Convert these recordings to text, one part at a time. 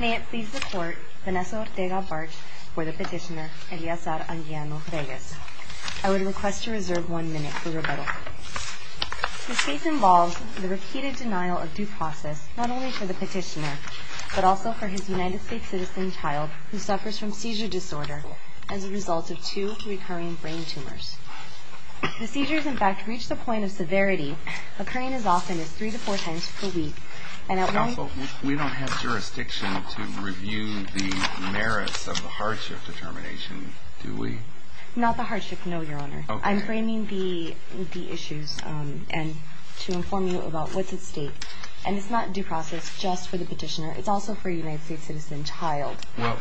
May it please the court, Vanessa Ortega Bartsch for the petitioner, Eliasar Anguiano Reyes. I would request to reserve one minute for rebuttal. This case involves the repeated denial of due process, not only for the petitioner, but also for his United States citizen child, who suffers from seizure disorder as a result of two recurring brain tumors. The seizures, in fact, reach the point of severity, occurring as often as three to four times per week, and at one... We don't have jurisdiction to review the merits of the hardship determination, do we? Not the hardship, no, your honor. I'm framing the issues to inform you about what's at stake. And it's not due process just for the petitioner, it's also for a United States citizen child. Well,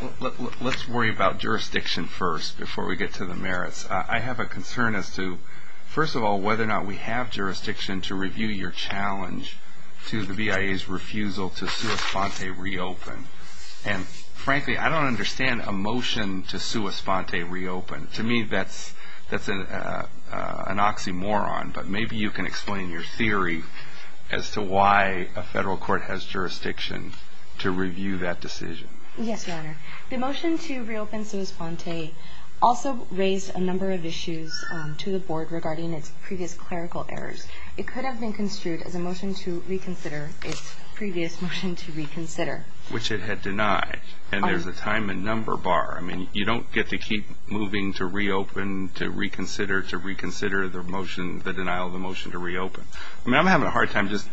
let's worry about jurisdiction first before we get to the merits. I have a concern as to, first of all, whether or not we have jurisdiction to review your challenge to the BIA's refusal to sua sponte reopen. And frankly, I don't understand a motion to sua sponte reopen. To me, that's an oxymoron, but maybe you can explain your theory as to why a federal court has jurisdiction to review that decision. Yes, your honor. The motion to reopen sua sponte also raised a number of issues to the board regarding its previous clerical errors. It could have been construed as a motion to reconsider its previous motion to reconsider. Which it had denied, and there's a time and number bar. I mean, you don't get to keep moving to reopen, to reconsider, to reconsider the motion, the denial of the motion to reopen. I mean, I'm having a hard time just...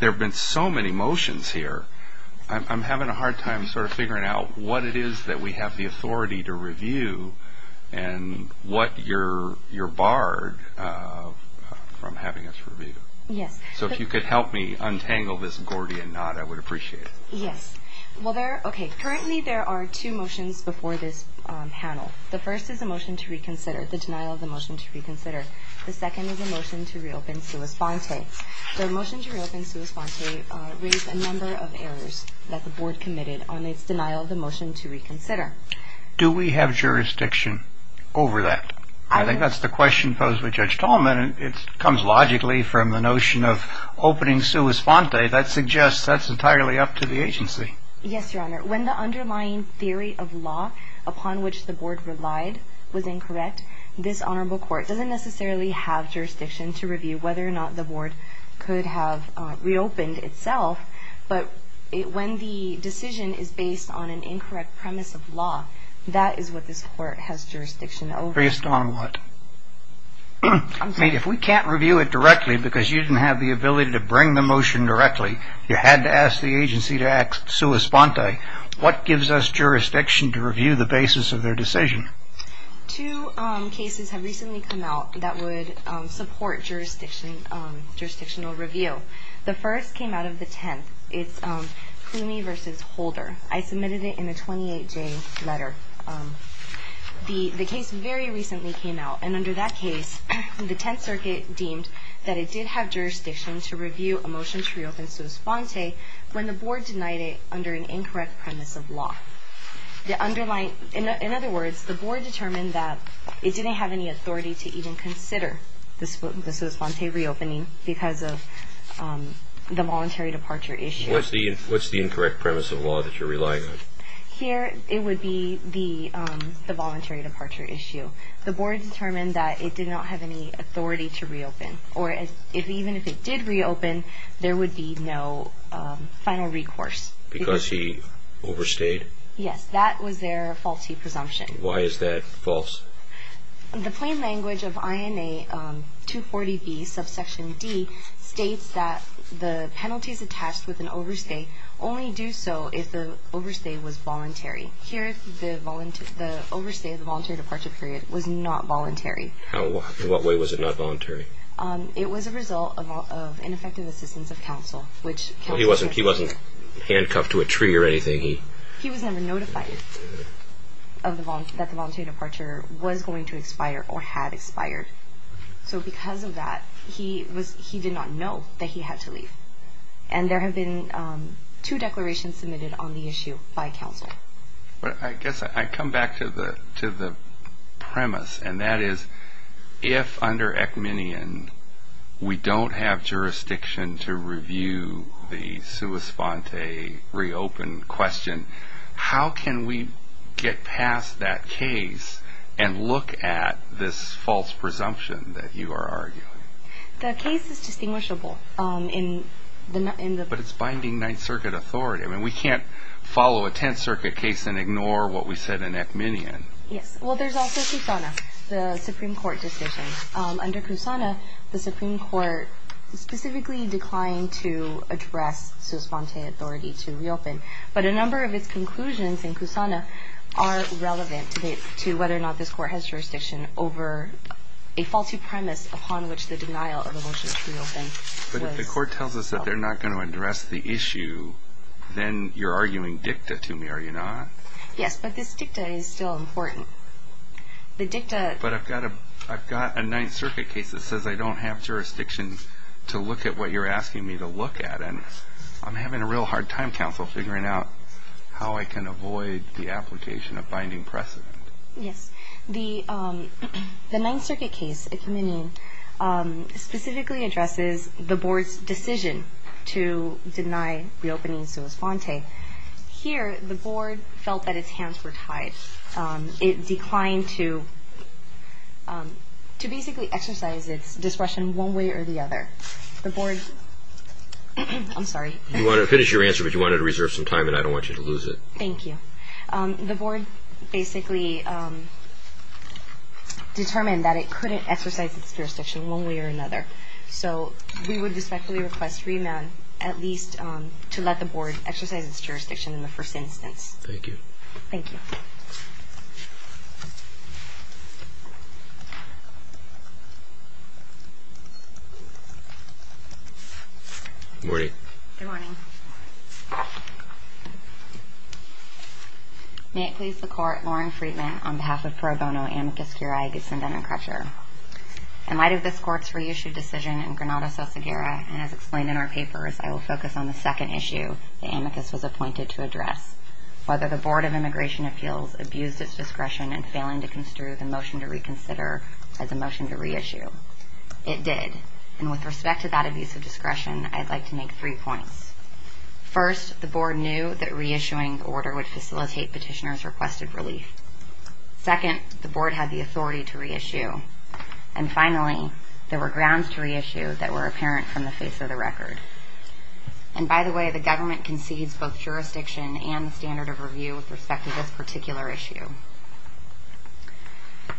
There have been so many motions here. I'm having a hard time sort of figuring out what it is that we have the authority to review and what you're barred from having us review. Yes. So if you could help me untangle this Gordian knot, I would appreciate it. Yes. Well, there... Okay, currently there are two motions before this panel. The first is a motion to reconsider, the denial of the motion to reconsider. The second is a motion to reopen sua sponte. The motion to reopen sua sponte raised a number of errors that the board committed on its denial of the motion to reconsider. Do we have jurisdiction over that? I think that's the question posed by Judge Tolman. It comes logically from the notion of opening sua sponte. That suggests that's entirely up to the agency. Yes, Your Honor. When the underlying theory of law upon which the board relied was incorrect, this honorable court doesn't necessarily have jurisdiction to review whether or not the board could have reopened itself. But when the decision is based on an incorrect premise of law, that is what this court has jurisdiction over. Based on what? I'm sorry. I mean, if we can't review it directly because you didn't have the ability to bring the motion directly, you had to ask the agency to act sua sponte, what gives us jurisdiction to review the basis of their decision? Two cases have recently come out that would support jurisdictional review. The first came out of the Tenth. It's Clumie v. Holder. I submitted it in a 28-J letter. The case very recently came out, and under that case, the Tenth Circuit deemed that it did have jurisdiction to review a motion to reopen sua sponte when the board denied it under an incorrect premise of law. In other words, the board determined that it didn't have any authority to even consider the sua sponte reopening because of the voluntary departure issue. What's the incorrect premise of law that you're relying on? Here, it would be the voluntary departure issue. The board determined that it did not have any authority to reopen, or even if it did reopen, there would be no final recourse. Because he overstayed? Yes, that was their faulty presumption. Why is that false? The plain language of INA 240B, subsection D, states that the penalties attached with an overstay only do so if the overstay was voluntary. Here, the overstay of the voluntary departure period was not voluntary. In what way was it not voluntary? It was a result of ineffective assistance of counsel. He wasn't handcuffed to a tree or anything? He was never notified that the voluntary departure was going to expire or had expired. So because of that, he did not know that he had to leave. And there have been two declarations submitted on the issue by counsel. I guess I come back to the premise, and that is, if under Ekmanian we don't have jurisdiction to review the sua sponte reopen question, how can we get past that case and look at this false presumption that you are arguing? The case is distinguishable. But it's binding Ninth Circuit authority. I mean, we can't follow a Tenth Circuit case and ignore what we said in Ekmanian. Yes. Well, there's also Kusana, the Supreme Court decision. Under Kusana, the Supreme Court specifically declined to address sua sponte authority to reopen. But a number of its conclusions in Kusana are relevant to whether or not this Court has jurisdiction over a faulty premise upon which the denial of a motion to reopen was held. If the Court tells us that they're not going to address the issue, then you're arguing dicta to me, are you not? Yes, but this dicta is still important. But I've got a Ninth Circuit case that says I don't have jurisdiction to look at what you're asking me to look at. And I'm having a real hard time, counsel, figuring out how I can avoid the application of binding precedent. Yes. The Ninth Circuit case, Ekmanian, specifically addresses the Board's decision to deny reopening sua sponte. Here, the Board felt that its hands were tied. It declined to basically exercise its discretion one way or the other. The Board – I'm sorry. You wanted to finish your answer, but you wanted to reserve some time, and I don't want you to lose it. Thank you. The Board basically determined that it couldn't exercise its jurisdiction one way or another. So we would respectfully request remand at least to let the Board exercise its jurisdiction in the first instance. Thank you. Thank you. Good morning. Good morning. May it please the Court, Lauren Freedman, on behalf of pro bono amicus curiae gusinda and Crutcher. In light of this Court's reissued decision in Granada-Salsaguera, and as explained in our papers, I will focus on the second issue the amicus was appointed to address, whether the Board of Immigration Appeals abused its discretion in failing to construe the motion to reconsider as a motion to reissue. It did. And with respect to that abuse of discretion, I'd like to make three points. First, the Board knew that reissuing the order would facilitate Petitioner's requested relief. Second, the Board had the authority to reissue. And finally, there were grounds to reissue that were apparent from the face of the record. And by the way, the government concedes both jurisdiction and the standard of review with respect to this particular issue.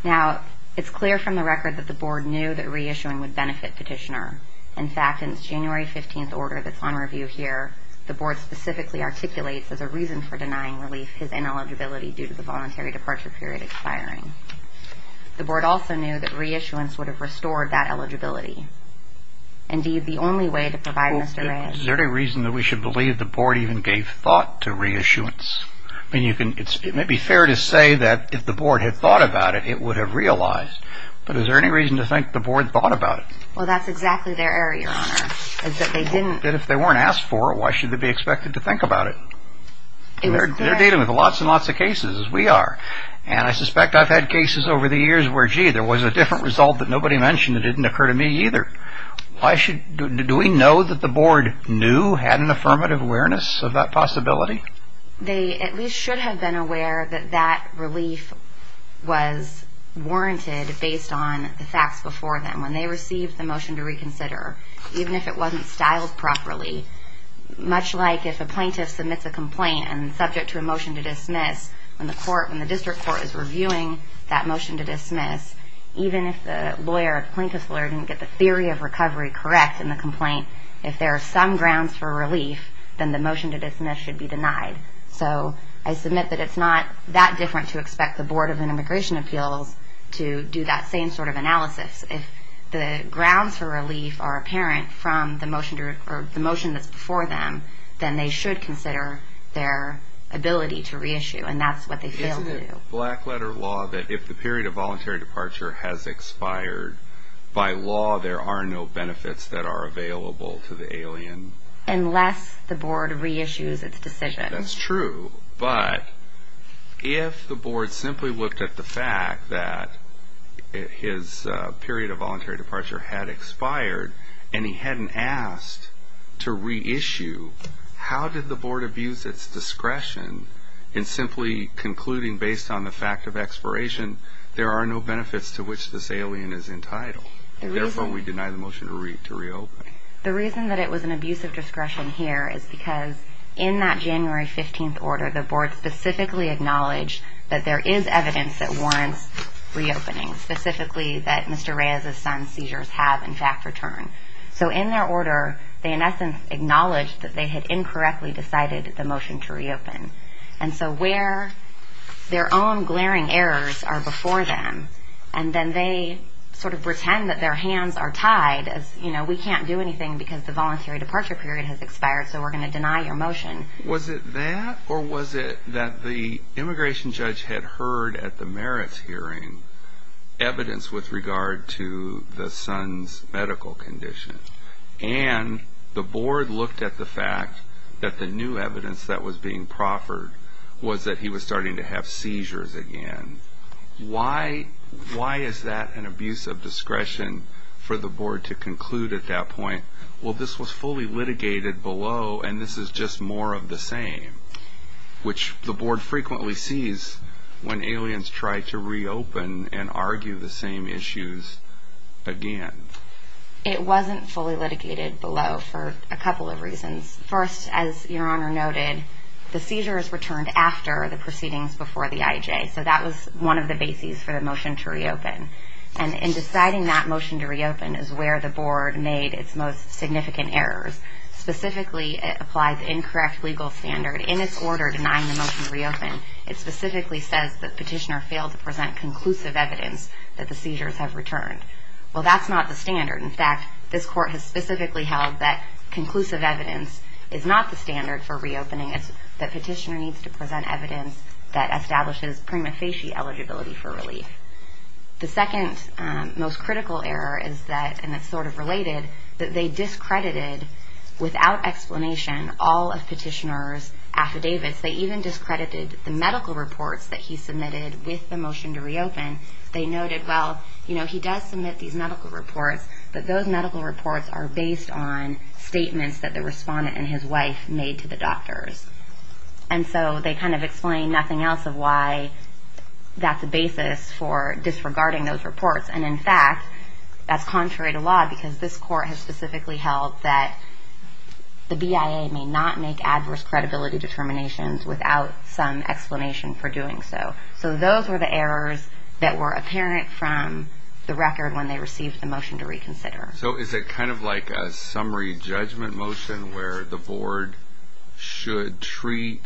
Now, it's clear from the record that the Board knew that reissuing would benefit Petitioner. In fact, in its January 15th order that's on review here, the Board specifically articulates as a reason for denying relief his ineligibility due to the voluntary departure period expiring. The Board also knew that reissuance would have restored that eligibility. Indeed, the only way to provide Mr. Redd... Is there any reason that we should believe the Board even gave thought to reissuance? I mean, it may be fair to say that if the Board had thought about it, it would have realized. But is there any reason to think the Board thought about it? Well, that's exactly their error, Your Honor. If they weren't asked for it, why should they be expected to think about it? They're dealing with lots and lots of cases, as we are. And I suspect I've had cases over the years where, gee, there was a different result that nobody mentioned that didn't occur to me either. Do we know that the Board knew, had an affirmative awareness of that possibility? They at least should have been aware that that relief was warranted based on the facts before them. When they received the motion to reconsider, even if it wasn't styled properly, much like if a plaintiff submits a complaint and is subject to a motion to dismiss, when the District Court is reviewing that motion to dismiss, even if the plaintiff's lawyer didn't get the theory of recovery correct in the complaint, if there are some grounds for relief, then the motion to dismiss should be denied. So I submit that it's not that different to expect the Board of Immigration Appeals to do that same sort of analysis. If the grounds for relief are apparent from the motion that's before them, then they should consider their ability to reissue, and that's what they failed to do. Isn't it black-letter law that if the period of voluntary departure has expired, by law there are no benefits that are available to the alien? Unless the Board reissues its decision. That's true, but if the Board simply looked at the fact that his period of voluntary departure had expired, and he hadn't asked to reissue, how did the Board abuse its discretion in simply concluding based on the fact of expiration there are no benefits to which this alien is entitled? Therefore, we deny the motion to reopen. The reason that it was an abuse of discretion here is because in that January 15th order, the Board specifically acknowledged that there is evidence that warrants reopening, specifically that Mr. Reyes' son's seizures have, in fact, returned. So in their order, they in essence acknowledged that they had incorrectly decided the motion to reopen. And so where their own glaring errors are before them, and then they sort of pretend that their hands are tied as, you know, we can't do anything because the voluntary departure period has expired, so we're going to deny your motion. Was it that, or was it that the immigration judge had heard at the merits hearing evidence with regard to the son's medical condition, and the Board looked at the fact that the new evidence that was being proffered was that he was starting to have seizures again. Why is that an abuse of discretion for the Board to conclude at that point? Well, this was fully litigated below, and this is just more of the same, which the Board frequently sees when aliens try to reopen and argue the same issues again. It wasn't fully litigated below for a couple of reasons. First, as Your Honor noted, the seizures returned after the proceedings before the IJ. So that was one of the bases for the motion to reopen. And in deciding that motion to reopen is where the Board made its most significant errors. Specifically, it applies incorrect legal standard. In its order denying the motion to reopen, it specifically says that Petitioner failed to present conclusive evidence that the seizures have returned. Well, that's not the standard. In fact, this Court has specifically held that conclusive evidence is not the standard for reopening. It's that Petitioner needs to present evidence that establishes prima facie eligibility for relief. The second most critical error is that, and it's sort of related, that they discredited, without explanation, all of Petitioner's affidavits. They even discredited the medical reports that he submitted with the motion to reopen. They noted, well, you know, he does submit these medical reports, but those medical reports are based on statements that the respondent and his wife made to the doctors. And so they kind of explain nothing else of why that's a basis for disregarding those reports. And in fact, that's contrary to law, because this Court has specifically held that the BIA may not make adverse credibility determinations without some explanation for doing so. So those were the errors that were apparent from the record when they received the motion to reconsider. So is it kind of like a summary judgment motion, where the Board should treat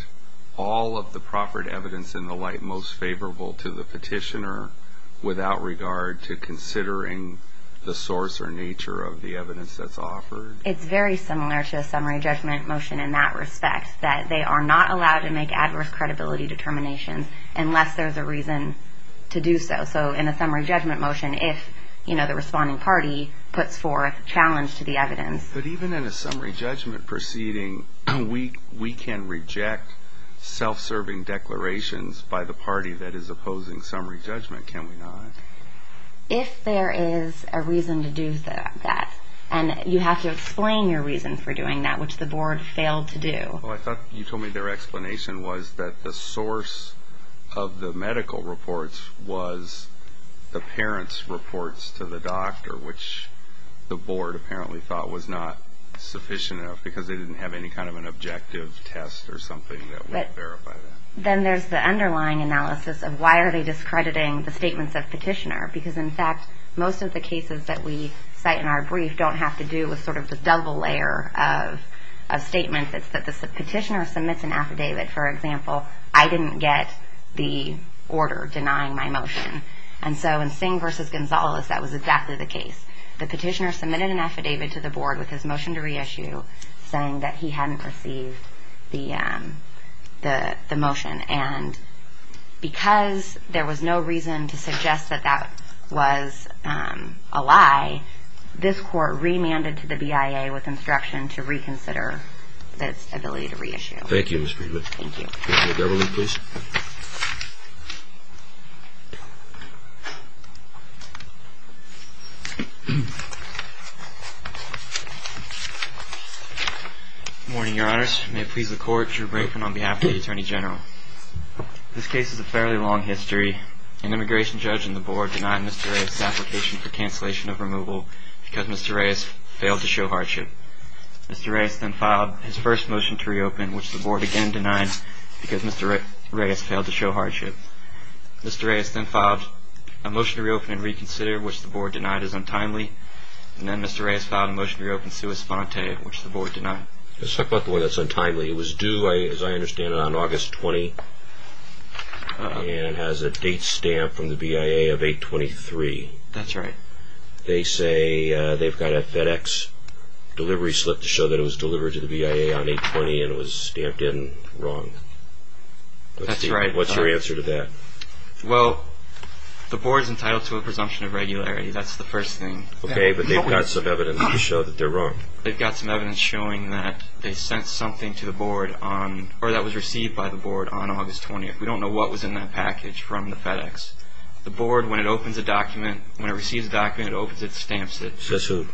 all of the proffered evidence in the light most favorable to the Petitioner, without regard to considering the source or nature of the evidence that's offered? It's very similar to a summary judgment motion in that respect, that they are not allowed to make adverse credibility determinations unless there's a reason to do so. So in a summary judgment motion, if, you know, the responding party puts forth a challenge to the evidence. But even in a summary judgment proceeding, we can reject self-serving declarations by the party that is opposing summary judgment, can we not? If there is a reason to do that, and you have to explain your reason for doing that, which the Board failed to do. I thought you told me their explanation was that the source of the medical reports was the parents' reports to the doctor, which the Board apparently thought was not sufficient enough, because they didn't have any kind of an objective test or something that would verify that. Then there's the underlying analysis of why are they discrediting the statements of Petitioner? Because in fact, most of the cases that we cite in our brief don't have to do with sort of the double layer of a statement that the Petitioner submits an affidavit. For example, I didn't get the order denying my motion. And so in Singh v. Gonzalez, that was exactly the case. The Petitioner submitted an affidavit to the Board with his motion to reissue saying that he hadn't received the motion. And because there was no reason to suggest that that was a lie, this Court remanded to the BIA with instruction to reconsider its ability to reissue. Thank you, Ms. Friedland. Thank you. Governor Lee, please. Good morning, Your Honors. May it please the Court, Drew Brinkman on behalf of the Attorney General. This case has a fairly long history. An immigration judge and the Board denied Mr. Reyes' application for cancellation of removal because Mr. Reyes failed to show hardship. Mr. Reyes then filed his first motion to reopen, which the Board again denied because Mr. Reyes failed to show hardship. Mr. Reyes then filed a motion to reopen and reconsider, which the Board denied as untimely. And then Mr. Reyes filed a motion to reopen sua sponte, which the Board denied. Let's talk about the way that's untimely. It was due, as I understand it, on August 20 and has a date stamp from the BIA of 8-23. That's right. They say they've got a FedEx delivery slip to show that it was delivered to the BIA on 8-20 and it was stamped in wrong. That's right. What's your answer to that? Well, the Board's entitled to a presumption of regularity. That's the first thing. Okay, but they've got some evidence to show that they're wrong. They've got some evidence showing that they sent something to the Board or that was received by the Board on August 20. We don't know what was in that package from the FedEx. The Board, when it opens a document, when it receives a document, it opens it, stamps it. Says who? It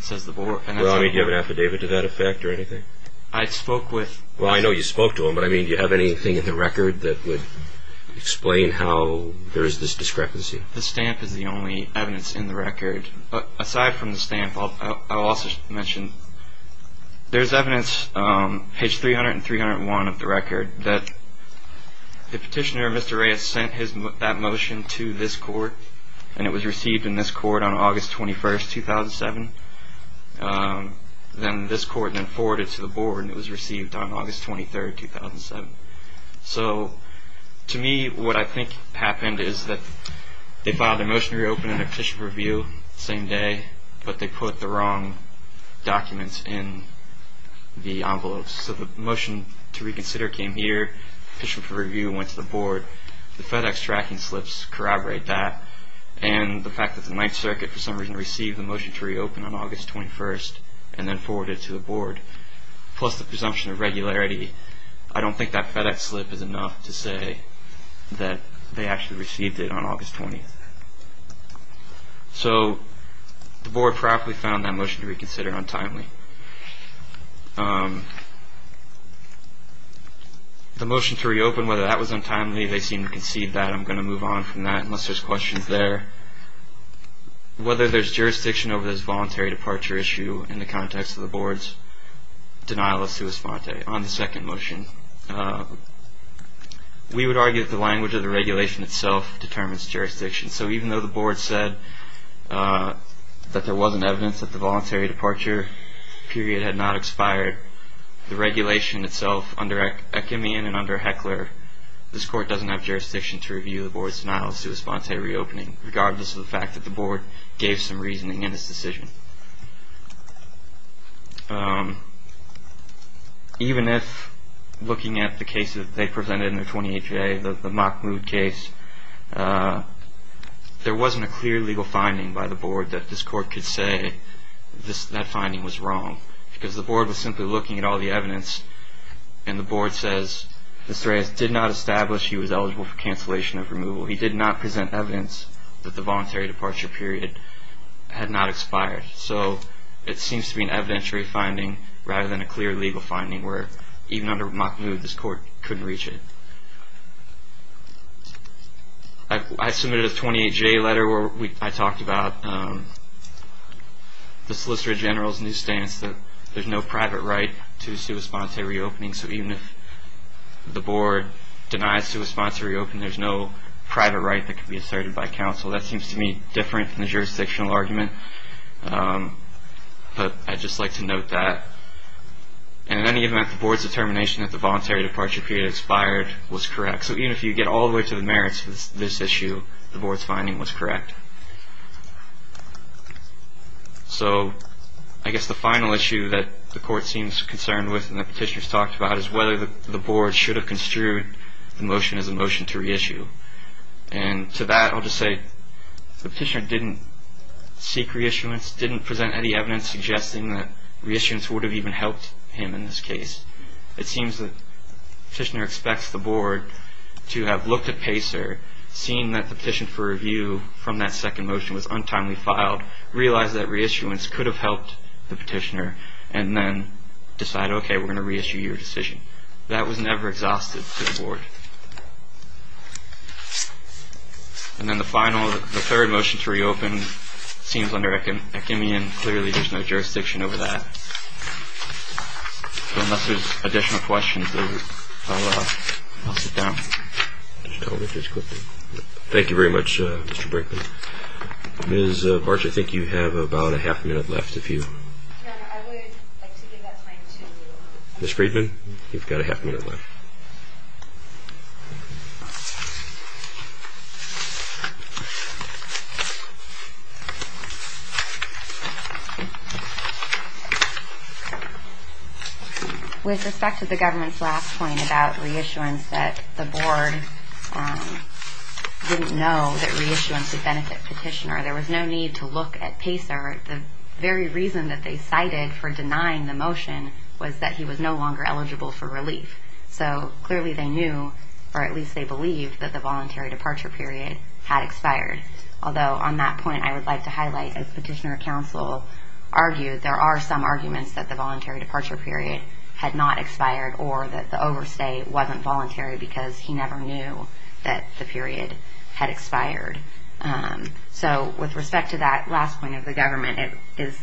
says the Board. Well, I mean, do you have an affidavit to that effect or anything? I spoke with... Well, I know you spoke to them, but, I mean, do you have anything in the record that would explain how there is this discrepancy? The stamp is the only evidence in the record. Aside from the stamp, I'll also mention there's evidence, page 300 and 301 of the record, that the petitioner, Mr. Ray, had sent that motion to this court and it was received in this court on August 21, 2007. Then this court then forwarded it to the Board and it was received on August 23, 2007. So, to me, what I think happened is that they filed a motion to reopen and a petition for review the same day, but they put the wrong documents in the envelopes. So the motion to reconsider came here, petition for review went to the Board, the FedEx tracking slips corroborate that, and the fact that the Ninth Circuit, for some reason, received the motion to reopen on August 21 and then forwarded it to the Board, plus the presumption of regularity. I don't think that FedEx slip is enough to say that they actually received it on August 20. So, the Board probably found that motion to reconsider untimely. The motion to reopen, whether that was untimely, they seem to concede that. I'm going to move on from that unless there's questions there. Whether there's jurisdiction over this voluntary departure issue in the context of the Board's denial of sua sponte. On the second motion, we would argue that the language of the regulation itself determines jurisdiction. So, even though the Board said that there wasn't evidence that the voluntary departure period had not expired, the regulation itself under Ackermann and under Heckler, this Court doesn't have jurisdiction to review the Board's denial of sua sponte reopening, regardless of the fact that the Board gave some reasoning in its decision. Even if, looking at the case that they presented in their 28-J, the Mock Mood case, there wasn't a clear legal finding by the Board that this Court could say that finding was wrong. Because the Board was simply looking at all the evidence, and the Board says, Mr. Reyes did not establish he was eligible for cancellation of removal. He did not present evidence that the voluntary departure period had not expired. So, it seems to be an evidentiary finding rather than a clear legal finding, where even under Mock Mood, this Court couldn't reach it. I submitted a 28-J letter where I talked about the Solicitor General's new stance that there's no private right to sua sponte reopening. So, even if the Board denies sua sponte reopening, there's no private right that could be asserted by counsel. That seems to me different from the jurisdictional argument, but I'd just like to note that. And in any event, the Board's determination that the voluntary departure period expired was correct. So, even if you get all the way to the merits of this issue, the Board's finding was correct. So, I guess the final issue that the Court seems concerned with and that Petitioner's talked about is whether the Board should have construed the motion as a motion to reissue. And to that, I'll just say, Petitioner didn't seek reissuance, didn't present any evidence suggesting that reissuance would have even helped him in this case. It seems that Petitioner expects the Board to have looked at PACER, seen that the petition for review from that second motion was untimely filed, realized that reissuance could have helped the Petitioner, and then decided, okay, we're going to reissue your decision. That was never exhausted to the Board. And then the final, the third motion to reopen seems under echemion. Clearly, there's no jurisdiction over that. So, unless there's additional questions, I'll sit down. Just tell me just quickly. Thank you very much, Mr. Brinkman. Ms. Bartsch, I think you have about a half minute left if you... No, no, I would like to give that time to... Ms. Friedman, you've got a half minute left. Okay. With respect to the government's last point about reissuance, that the Board didn't know that reissuance would benefit Petitioner, there was no need to look at PACER. The very reason that they cited for denying the motion was that he was no longer eligible for relief. So, clearly, they knew, or at least they believed, that the voluntary departure period had expired. Although, on that point, I would like to highlight, as Petitioner counsel argued, there are some arguments that the voluntary departure period had not expired or that the overstay wasn't voluntary because he never knew that the period had expired. So, with respect to that last point of the government, it is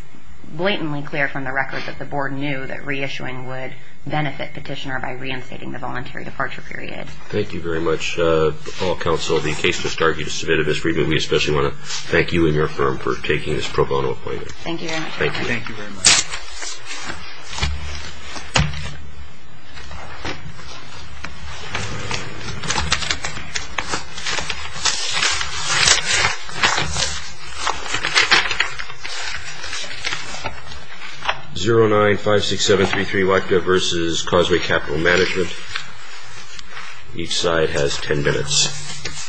blatantly clear from the record that the Board knew that reissuing would benefit Petitioner by reinstating the voluntary departure period. Thank you very much. All counsel, the case just argued is submitted. Ms. Friedman, we especially want to thank you and your firm for taking this pro bono appointment. Thank you very much. Thank you. Thank you very much. 0956733 WACDA versus Causeway Capital Management. Each side has ten minutes.